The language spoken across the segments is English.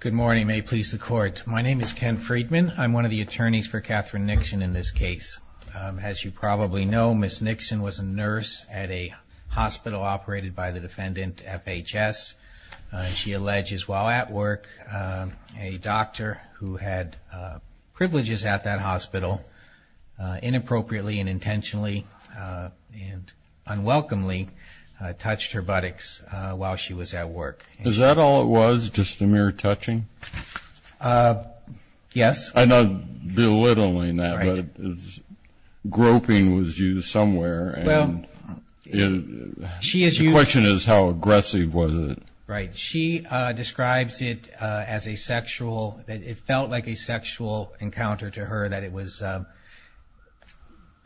Good morning. May it please the Court. My name is Ken Friedman. I'm one of the attorneys for Katherine Nixon in this case. As you probably know, Ms. Nixon was a nurse at a hospital operated by the defendant, FHS. She alleges while at work, a doctor who had privileges at that hospital, inappropriately and intentionally and unwelcomely touched her buttocks while she was at work. Is that all it was, just the mere touching? Yes. I'm not belittling that, but groping was used somewhere. Well, she is used. The question is how aggressive was it? Right. She describes it as a sexual, that it felt like a sexual encounter to her that it was,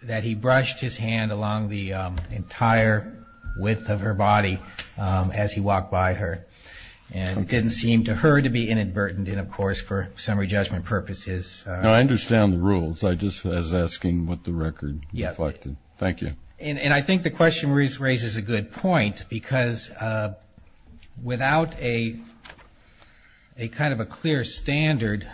that he brushed his hand along the entire width of her body as he walked by her. And it didn't seem to her to be inadvertent, and of course for summary judgment purposes. No, I understand the rules. I just was asking what the record reflected. Yes. Thank you. And I think the question raises a good point because without a kind of a clear standard,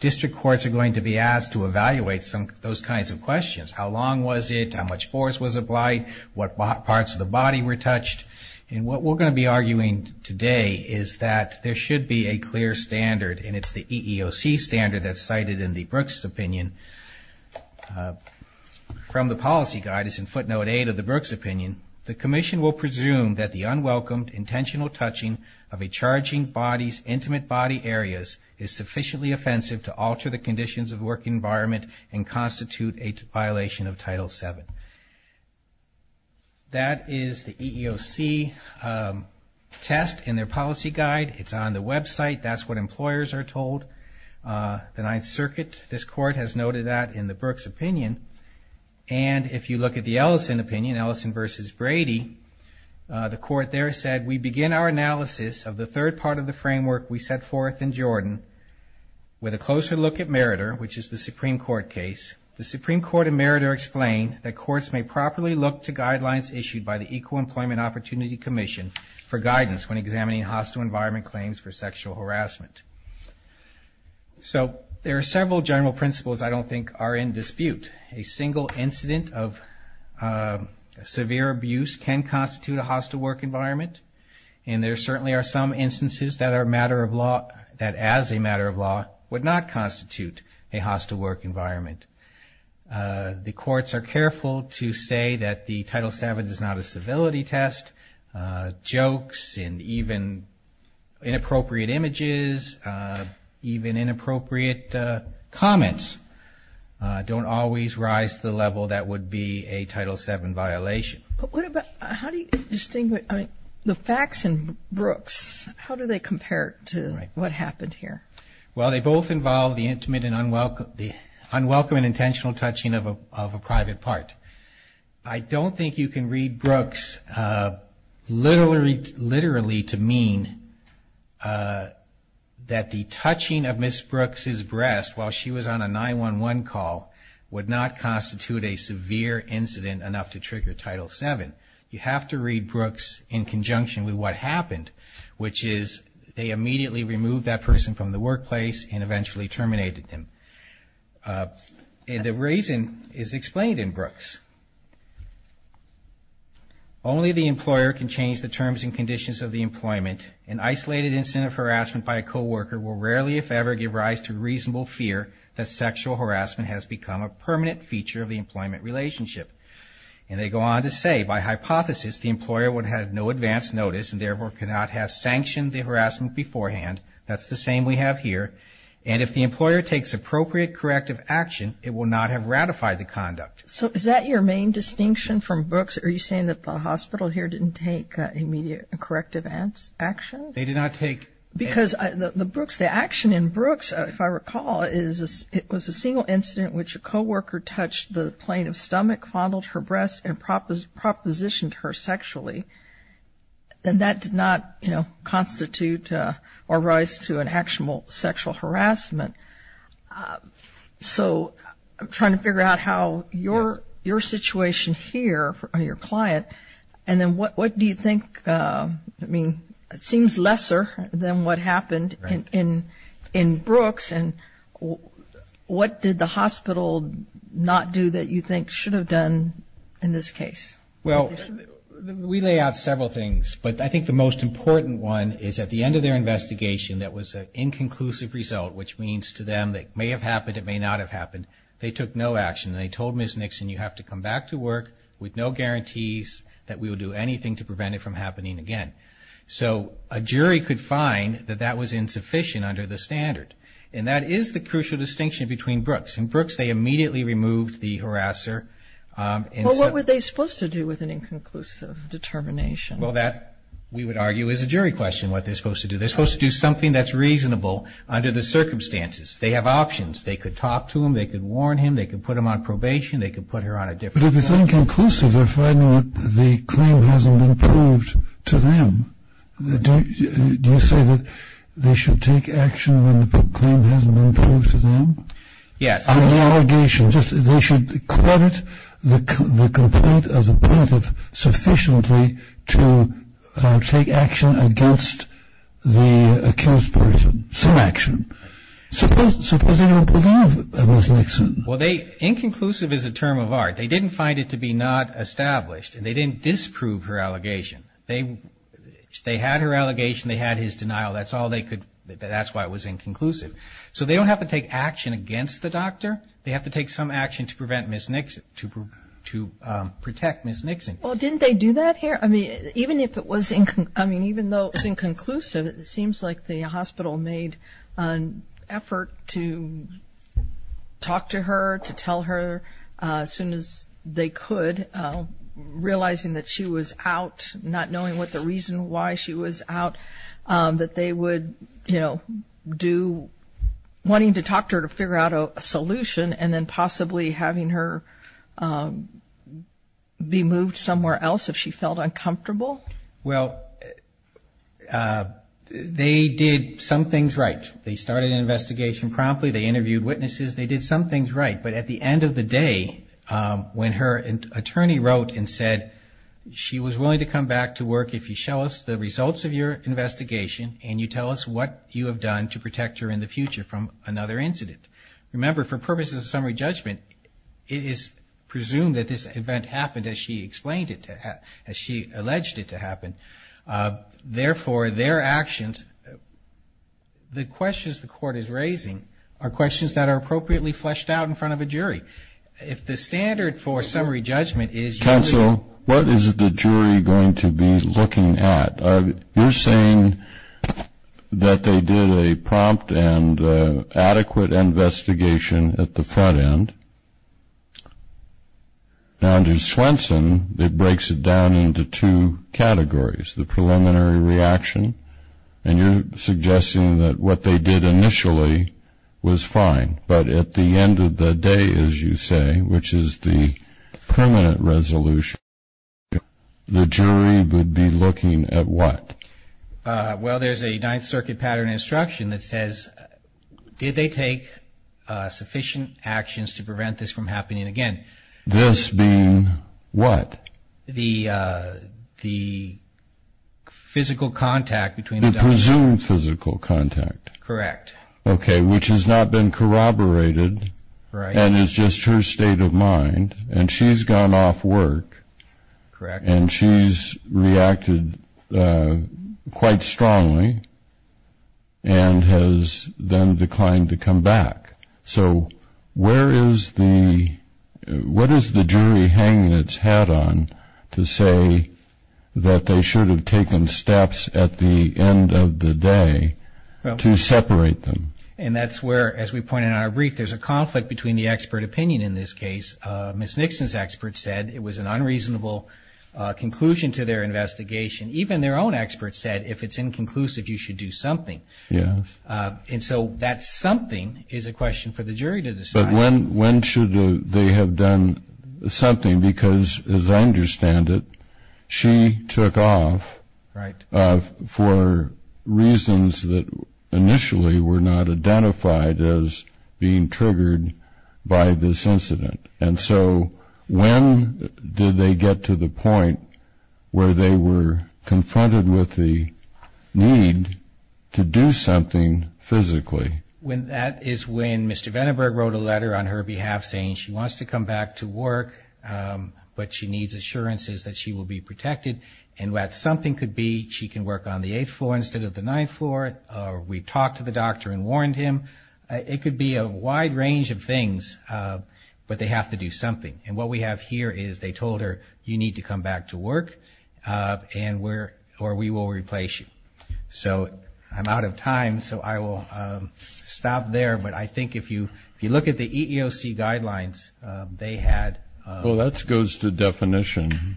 district courts are going to be asked to evaluate those kinds of questions. How long was it? How much force was applied? What parts of the body were touched? And what we're going to be arguing today is that there should be a clear standard, and it's the EEOC standard that's cited in the Brooks opinion from the policy guide. It's in footnote 8 of the Brooks opinion. The commission will presume that the unwelcomed intentional touching of a charging body's intimate body areas is sufficiently offensive to alter the conditions of the work environment and constitute a violation of Title VII. That is the EEOC test in their policy guide. It's on the website. That's what employers are told. The Ninth Circuit, this court, has noted that in the Brooks opinion. And if you look at the Ellison opinion, Ellison v. Brady, the court there said, we begin our analysis of the third part of the framework we set forth in Jordan with a closer look at Meritor, which is the Supreme Court case. The Supreme Court and Meritor explain that courts may properly look to guidelines issued by the So there are several general principles I don't think are in dispute. A single incident of severe abuse can constitute a hostile work environment, and there certainly are some instances that are a matter of law, that as a matter of law would not constitute a hostile work environment. The courts are careful to say that the Title VII is not a civility test. Jokes and even inappropriate images, even inappropriate comments, don't always rise to the level that would be a Title VII violation. But how do you distinguish the facts in Brooks? How do they compare to what happened here? Well, they both involve the intimate and unwelcome and intentional touching of a private part. I don't think you can read Brooks literally to mean that the touching of Ms. Brooks' breast while she was on a 911 call would not constitute a severe incident enough to trigger Title VII. You have to read Brooks in conjunction with what happened, which is they immediately removed that person from the workplace and eventually terminated him. And the reason is explained in Brooks. Only the employer can change the terms and conditions of the employment. An isolated incident of harassment by a co-worker will rarely, if ever, give rise to reasonable fear that sexual harassment has become a permanent feature of the employment relationship. And they go on to say, by hypothesis, the employer would have no advance notice and therefore could not have sanctioned the harassment beforehand. That's the same we have here. And if the employer takes appropriate corrective action, it will not have ratified the conduct. So is that your main distinction from Brooks? Are you saying that the hospital here didn't take immediate corrective action? They did not take. Because the action in Brooks, if I recall, is it was a single incident in which a co-worker touched the plane of stomach, fondled her breast and propositioned her sexually. And that did not, you know, constitute or rise to an actionable sexual harassment. So I'm trying to figure out how your situation here, your client, and then what do you think, I mean, it seems lesser than what happened in Brooks. And what did the hospital not do that you think should have done in this case? Well, we lay out several things. But I think the most important one is at the end of their investigation, that was an inconclusive result, which means to them it may have happened, it may not have happened. They took no action. They told Ms. Nixon, you have to come back to work with no guarantees that we will do anything to prevent it from happening again. So a jury could find that that was insufficient under the standard. And that is the crucial distinction between Brooks. In Brooks, they immediately removed the harasser. Well, what were they supposed to do with an inconclusive determination? Well, that, we would argue, is a jury question, what they're supposed to do. They're supposed to do something that's reasonable under the circumstances. They have options. They could talk to him. They could warn him. They could put him on probation. They could put her on a different. But if it's inconclusive, they're finding that the claim hasn't been proved to them. Do you say that they should take action when the claim hasn't been proved to them? Yes. On the allegation, they should credit the complaint of the plaintiff sufficiently to take action against the accused person, some action. Suppose they don't believe Ms. Nixon. Well, inconclusive is a term of art. They didn't find it to be not established, and they didn't disprove her allegation. They had her allegation. They had his denial. That's why it was inconclusive. So they don't have to take action against the doctor. They have to take some action to protect Ms. Nixon. Well, didn't they do that here? I mean, even though it was inconclusive, it seems like the hospital made an effort to talk to her, to tell her as soon as they could, realizing that she was out, not knowing what the reason why she was out, that they would do wanting to talk to her to figure out a solution and then possibly having her be moved somewhere else if she felt uncomfortable. Well, they did some things right. They started an investigation promptly. They interviewed witnesses. They did some things right. But at the end of the day, when her attorney wrote and said she was willing to come back to work if you show us the results of your investigation and you tell us what you have done to protect her in the future from another incident. Remember, for purposes of summary judgment, it is presumed that this event happened as she explained it, as she alleged it to happen. Therefore, their actions, the questions the court is raising, are questions that are appropriately fleshed out in front of a jury. If the standard for summary judgment is usually... Counsel, what is the jury going to be looking at? You're saying that they did a prompt and adequate investigation at the front end. Now, under Swenson, it breaks it down into two categories, the preliminary reaction, and you're suggesting that what they did initially was fine. But at the end of the day, as you say, which is the permanent resolution, the jury would be looking at what? Well, there's a Ninth Circuit pattern instruction that says, did they take sufficient actions to prevent this from happening again? This being what? The physical contact between... The presumed physical contact. Correct. Okay, which has not been corroborated. Right. And it's just her state of mind. And she's gone off work. Correct. And she's reacted quite strongly and has then declined to come back. So where is the... What is the jury hanging its hat on to say that they should have taken steps at the end of the day to separate them? And that's where, as we pointed out in our brief, there's a conflict between the expert opinion in this case. Ms. Nixon's expert said it was an unreasonable conclusion to their investigation. Even their own expert said if it's inconclusive, you should do something. Yes. And so that something is a question for the jury to decide. But when should they have done something? Because as I understand it, she took off... Right.... for reasons that initially were not identified as being triggered by this incident. And so when did they get to the point where they were confronted with the need to do something physically? That is when Mr. Vandenberg wrote a letter on her behalf saying she wants to come back to work, but she needs assurances that she will be protected. And that something could be she can work on the eighth floor instead of the ninth floor, or we talked to the doctor and warned him. It could be a wide range of things, but they have to do something. And what we have here is they told her you need to come back to work or we will replace you. So I'm out of time, so I will stop there. But I think if you look at the EEOC guidelines, they had... Well, that goes to definition.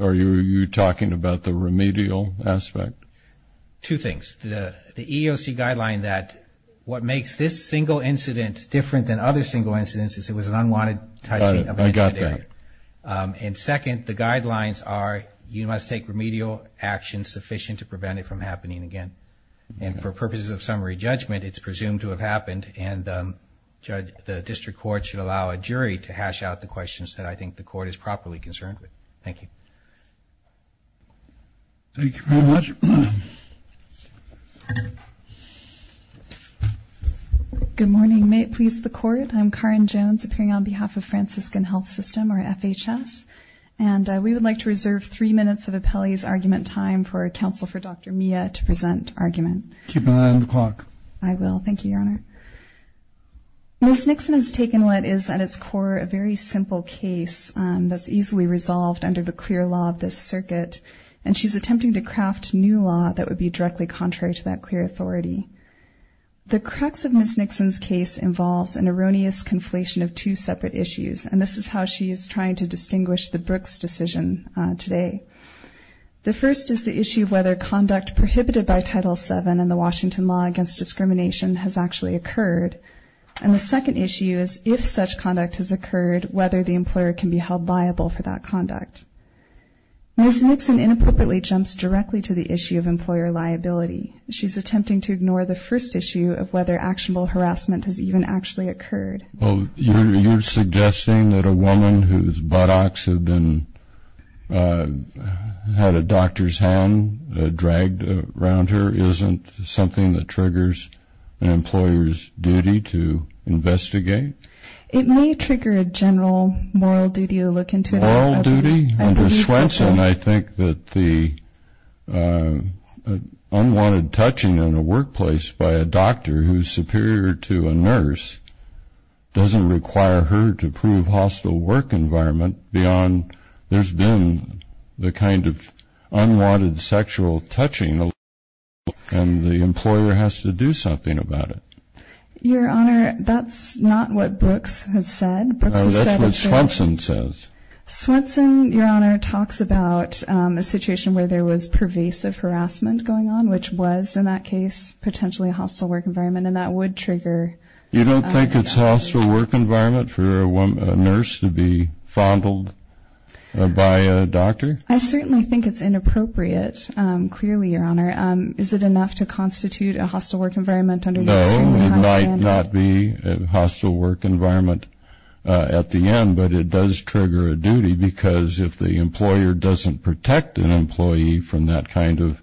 Are you talking about the remedial aspect? Two things. First, the EEOC guideline that what makes this single incident different than other single incidents is it was an unwanted... I got that. And second, the guidelines are you must take remedial action sufficient to prevent it from happening again. And for purposes of summary judgment, it's presumed to have happened, and the district court should allow a jury to hash out the questions that I think the court is properly concerned with. Thank you. Thank you very much. Good morning. May it please the Court, I'm Karen Jones, appearing on behalf of Franciscan Health System, or FHS, and we would like to reserve three minutes of appellee's argument time for counsel for Dr. Mia to present argument. Keep an eye on the clock. I will. Thank you, Your Honor. Ms. Nixon has taken what is at its core a very simple case that's easily resolved under the clear law of this circuit, and she's attempting to craft new law that would be directly contrary to that clear authority. The crux of Ms. Nixon's case involves an erroneous conflation of two separate issues, and this is how she is trying to distinguish the Brooks decision today. The first is the issue of whether conduct prohibited by Title VII in the Washington law against discrimination has actually occurred, and the second issue is if such conduct has occurred, whether the employer can be held liable for that conduct. Ms. Nixon inappropriately jumps directly to the issue of employer liability. She's attempting to ignore the first issue of whether actionable harassment has even actually occurred. You're suggesting that a woman whose buttocks had a doctor's hand dragged around her isn't something that triggers an employer's duty to investigate? It may trigger a general moral duty to look into it. Moral duty? Under Swenson, I think that the unwanted touching in a workplace by a doctor who's superior to a nurse doesn't require her to prove hostile work environment beyond there's been the kind of unwanted sexual touching, and the employer has to do something about it. Your Honor, that's not what Brooks has said. That's what Swenson says. Swenson, Your Honor, talks about a situation where there was pervasive harassment going on, which was, in that case, potentially a hostile work environment, and that would trigger. You don't think it's a hostile work environment for a nurse to be fondled by a doctor? I certainly think it's inappropriate, clearly, Your Honor. Is it enough to constitute a hostile work environment? No, it might not be a hostile work environment at the end, but it does trigger a duty because if the employer doesn't protect an employee from that kind of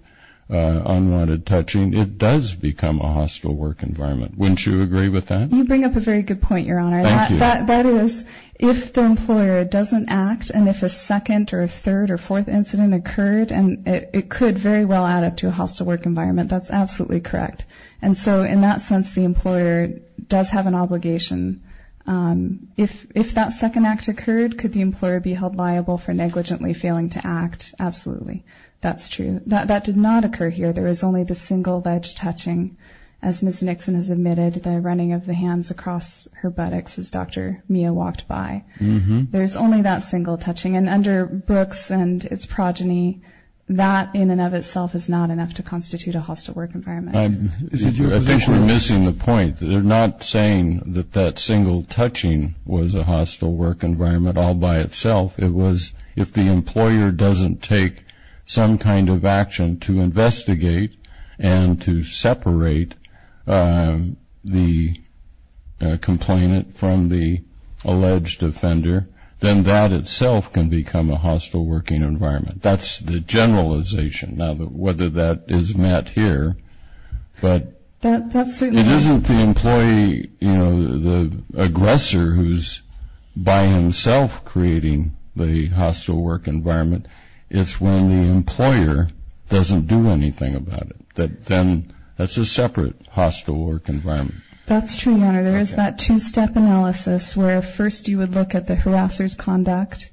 unwanted touching, it does become a hostile work environment. Wouldn't you agree with that? You bring up a very good point, Your Honor. Thank you. That is, if the employer doesn't act, and if a second or a third or fourth incident occurred, it could very well add up to a hostile work environment. That's absolutely correct. And so in that sense, the employer does have an obligation. If that second act occurred, could the employer be held liable for negligently failing to act? Absolutely. That's true. That did not occur here. There was only the single ledge touching, as Ms. Nixon has admitted, the running of the hands across her buttocks as Dr. Mia walked by. There's only that single touching. And under Brooks and its progeny, that in and of itself is not enough to constitute a hostile work environment. I think you're missing the point. They're not saying that that single touching was a hostile work environment all by itself. It was if the employer doesn't take some kind of action to investigate and to separate the complainant from the alleged offender, then that itself can become a hostile working environment. That's the generalization. Now, whether that is met here, but it isn't the employee, you know, the aggressor who's by himself creating the hostile work environment. It's when the employer doesn't do anything about it. Then that's a separate hostile work environment. That's true, Your Honor. There is that two-step analysis where first you would look at the harasser's conduct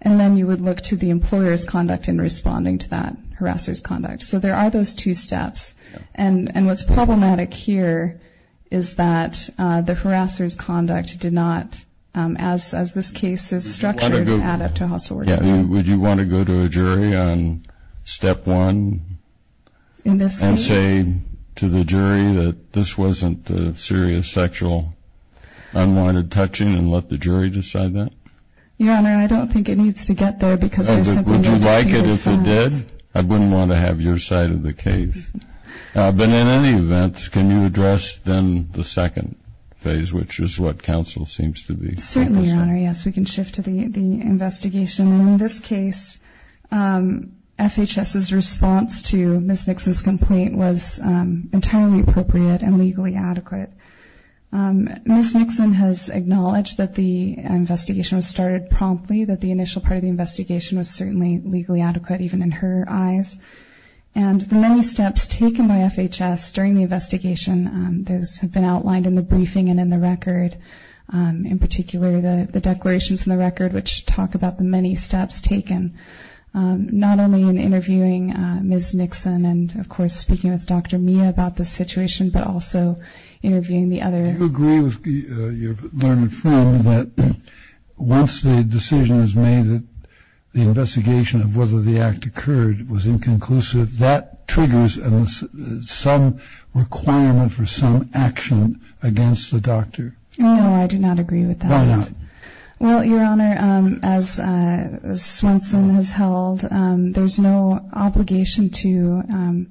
and then you would look to the employer's conduct in responding to that harasser's conduct. So there are those two steps. And what's problematic here is that the harasser's conduct did not, as this case is structured, add up to a hostile work environment. Would you want to go to a jury on step one and say to the jury that this wasn't a serious sexual unwanted touching and let the jury decide that? Your Honor, I don't think it needs to get there because there's something else to be defined. Would you like it if it did? I wouldn't want to have your side of the case. But in any event, can you address then the second phase, which is what counsel seems to be. Certainly, Your Honor. Yes, we can shift to the investigation. In this case, FHS's response to Ms. Nixon's complaint was entirely appropriate and legally adequate. Ms. Nixon has acknowledged that the investigation was started promptly, that the initial part of the investigation was certainly legally adequate, even in her eyes. And the many steps taken by FHS during the investigation, those have been outlined in the briefing and in the record, in particular the declarations in the record, which talk about the many steps taken, not only in interviewing Ms. Nixon and, of course, speaking with Dr. Mia about the situation, but also interviewing the other. Do you agree with your learned friend that once the decision is made, the investigation of whether the act occurred was inconclusive, that triggers some requirement for some action against the doctor? No, I do not agree with that. Why not? Well, Your Honor, as Swenson has held, there's no obligation to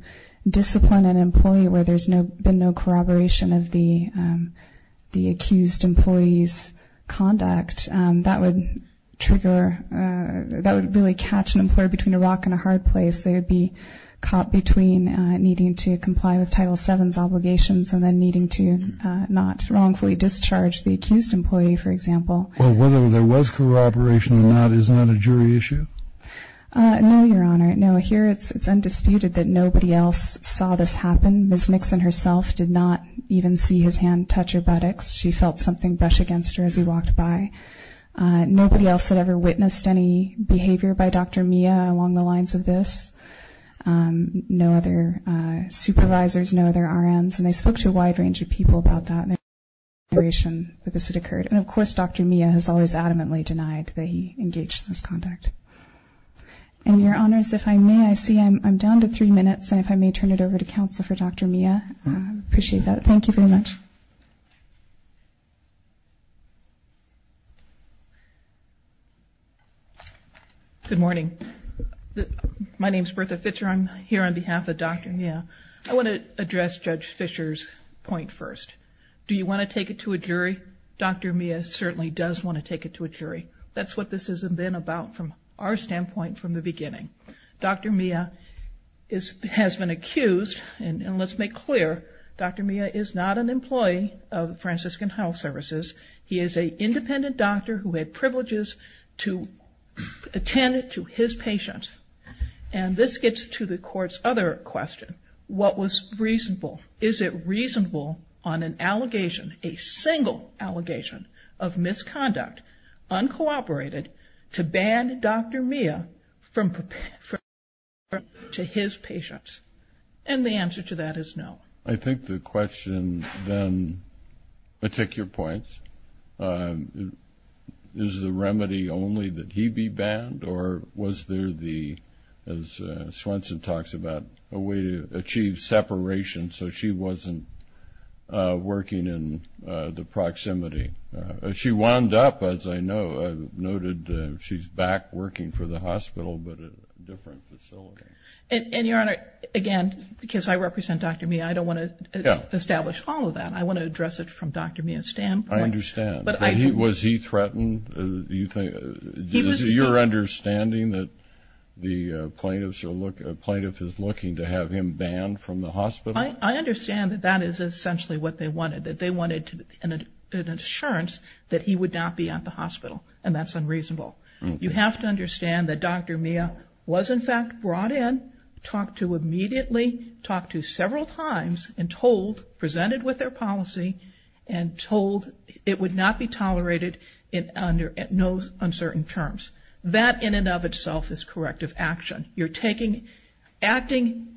discipline an employee where there's been no corroboration of the accused employee's conduct. That would trigger, that would really catch an employer between a rock and a hard place. They would be caught between needing to comply with Title VII's obligations and then needing to not wrongfully discharge the accused employee, for example. Well, whether there was corroboration or not, isn't that a jury issue? No, Your Honor. No, here it's undisputed that nobody else saw this happen. Ms. Nixon herself did not even see his hand touch her buttocks. She felt something brush against her as he walked by. Nobody else had ever witnessed any behavior by Dr. Mia along the lines of this. No other supervisors, no other RNs, and they spoke to a wide range of people about that and there was no corroboration that this had occurred. And, of course, Dr. Mia has always adamantly denied that he engaged in this conduct. And, Your Honors, if I may, I see I'm down to three minutes, and if I may turn it over to counsel for Dr. Mia. Appreciate that. Thank you very much. Good morning. My name is Bertha Fischer. I'm here on behalf of Dr. Mia. I want to address Judge Fischer's point first. Do you want to take it to a jury? Dr. Mia certainly does want to take it to a jury. That's what this has been about from our standpoint from the beginning. Dr. Mia has been accused, and let's make clear, Dr. Mia is not an employee of Franciscan Health Services. He is an independent doctor who had privileges to attend to his patients. And this gets to the court's other question. What was reasonable? Is it reasonable on an allegation, a single allegation of misconduct, uncooperated, to ban Dr. Mia from attending to his patients? And the answer to that is no. I think the question then, I take your point, is the remedy only that he be banned, or was there the, as Swenson talks about, a way to achieve separation so she wasn't working in the proximity? She wound up, as I noted, she's back working for the hospital, but at a different facility. And, Your Honor, again, because I represent Dr. Mia, I don't want to establish all of that. I want to address it from Dr. Mia's standpoint. I understand. Was he threatened? Is it your understanding that the plaintiff is looking to have him banned from the hospital? I understand that that is essentially what they wanted, that they wanted an assurance that he would not be at the hospital, and that's unreasonable. You have to understand that Dr. Mia was, in fact, brought in, talked to immediately, talked to several times, and told, presented with their policy and told it would not be tolerated in no uncertain terms. That, in and of itself, is corrective action. You're taking, acting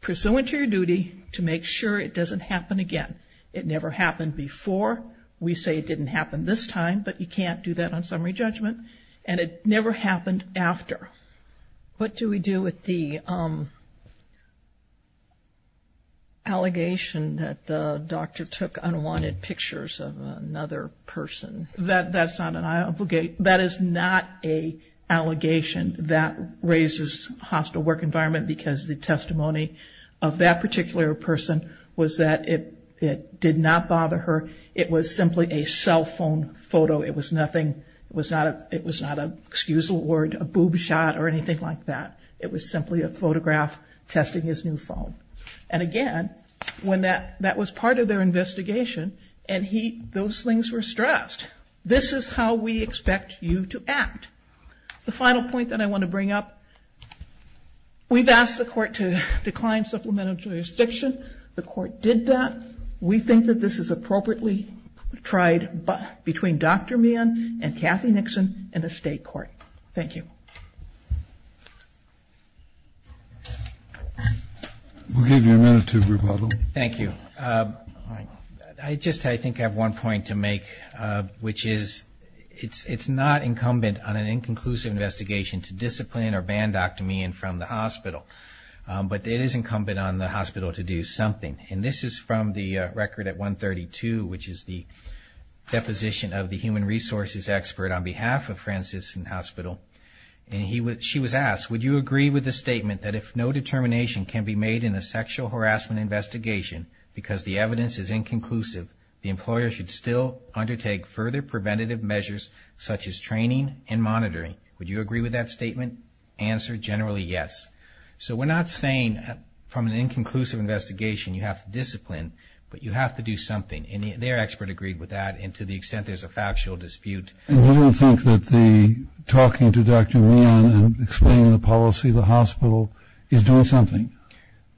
pursuant to your duty to make sure it doesn't happen again. It never happened before. We say it didn't happen this time, but you can't do that on summary judgment. And it never happened after. What do we do with the allegation that the doctor took unwanted pictures of another person? That's not an allegation. That is not an allegation that raises hostile work environment, because the testimony of that particular person was that it did not bother her. It was simply a cell phone photo. It was nothing, it was not an excusable word, a boob shot or anything like that. It was simply a photograph testing his new phone. And again, when that was part of their investigation, and those things were stressed. This is how we expect you to act. The final point that I want to bring up, we've asked the court to decline supplemental jurisdiction. The court did that. We think that this is appropriately tried between Dr. Meehan and Kathy Nixon in a State court. Thank you. We'll give you a minute to rebuttal. Thank you. I just, I think, have one point to make, which is it's not incumbent on an inconclusive investigation to discipline or ban Dr. Meehan from the hospital. But it is incumbent on the hospital to do something. And this is from the record at 132, which is the deposition of the human resources expert on behalf of Franciscan Hospital. And she was asked, would you agree with the statement that if no determination can be made in a sexual harassment investigation because the evidence is inconclusive, the employer should still undertake further preventative measures such as training and monitoring? Would you agree with that statement? Answer, generally, yes. So we're not saying from an inconclusive investigation you have to discipline, but you have to do something. And their expert agreed with that, and to the extent there's a factual dispute. I don't think that the talking to Dr. Meehan and explaining the policy of the hospital is doing something.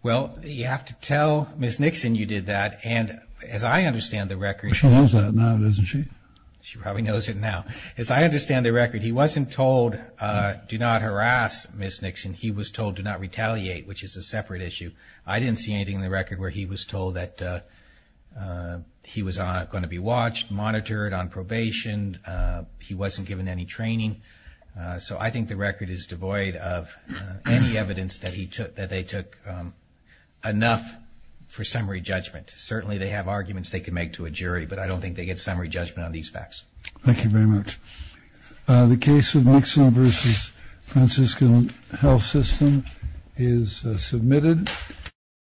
Well, you have to tell Ms. Nixon you did that. And as I understand the record. She knows that now, doesn't she? She probably knows it now. As I understand the record, he wasn't told do not harass Ms. Nixon. He was told do not retaliate, which is a separate issue. I didn't see anything in the record where he was told that he was going to be watched, monitored on probation. He wasn't given any training. So I think the record is devoid of any evidence that they took enough for summary judgment. Certainly they have arguments they can make to a jury, but I don't think they get summary judgment on these facts. Thank you very much. The case of Nixon v. Francisco Health System is submitted.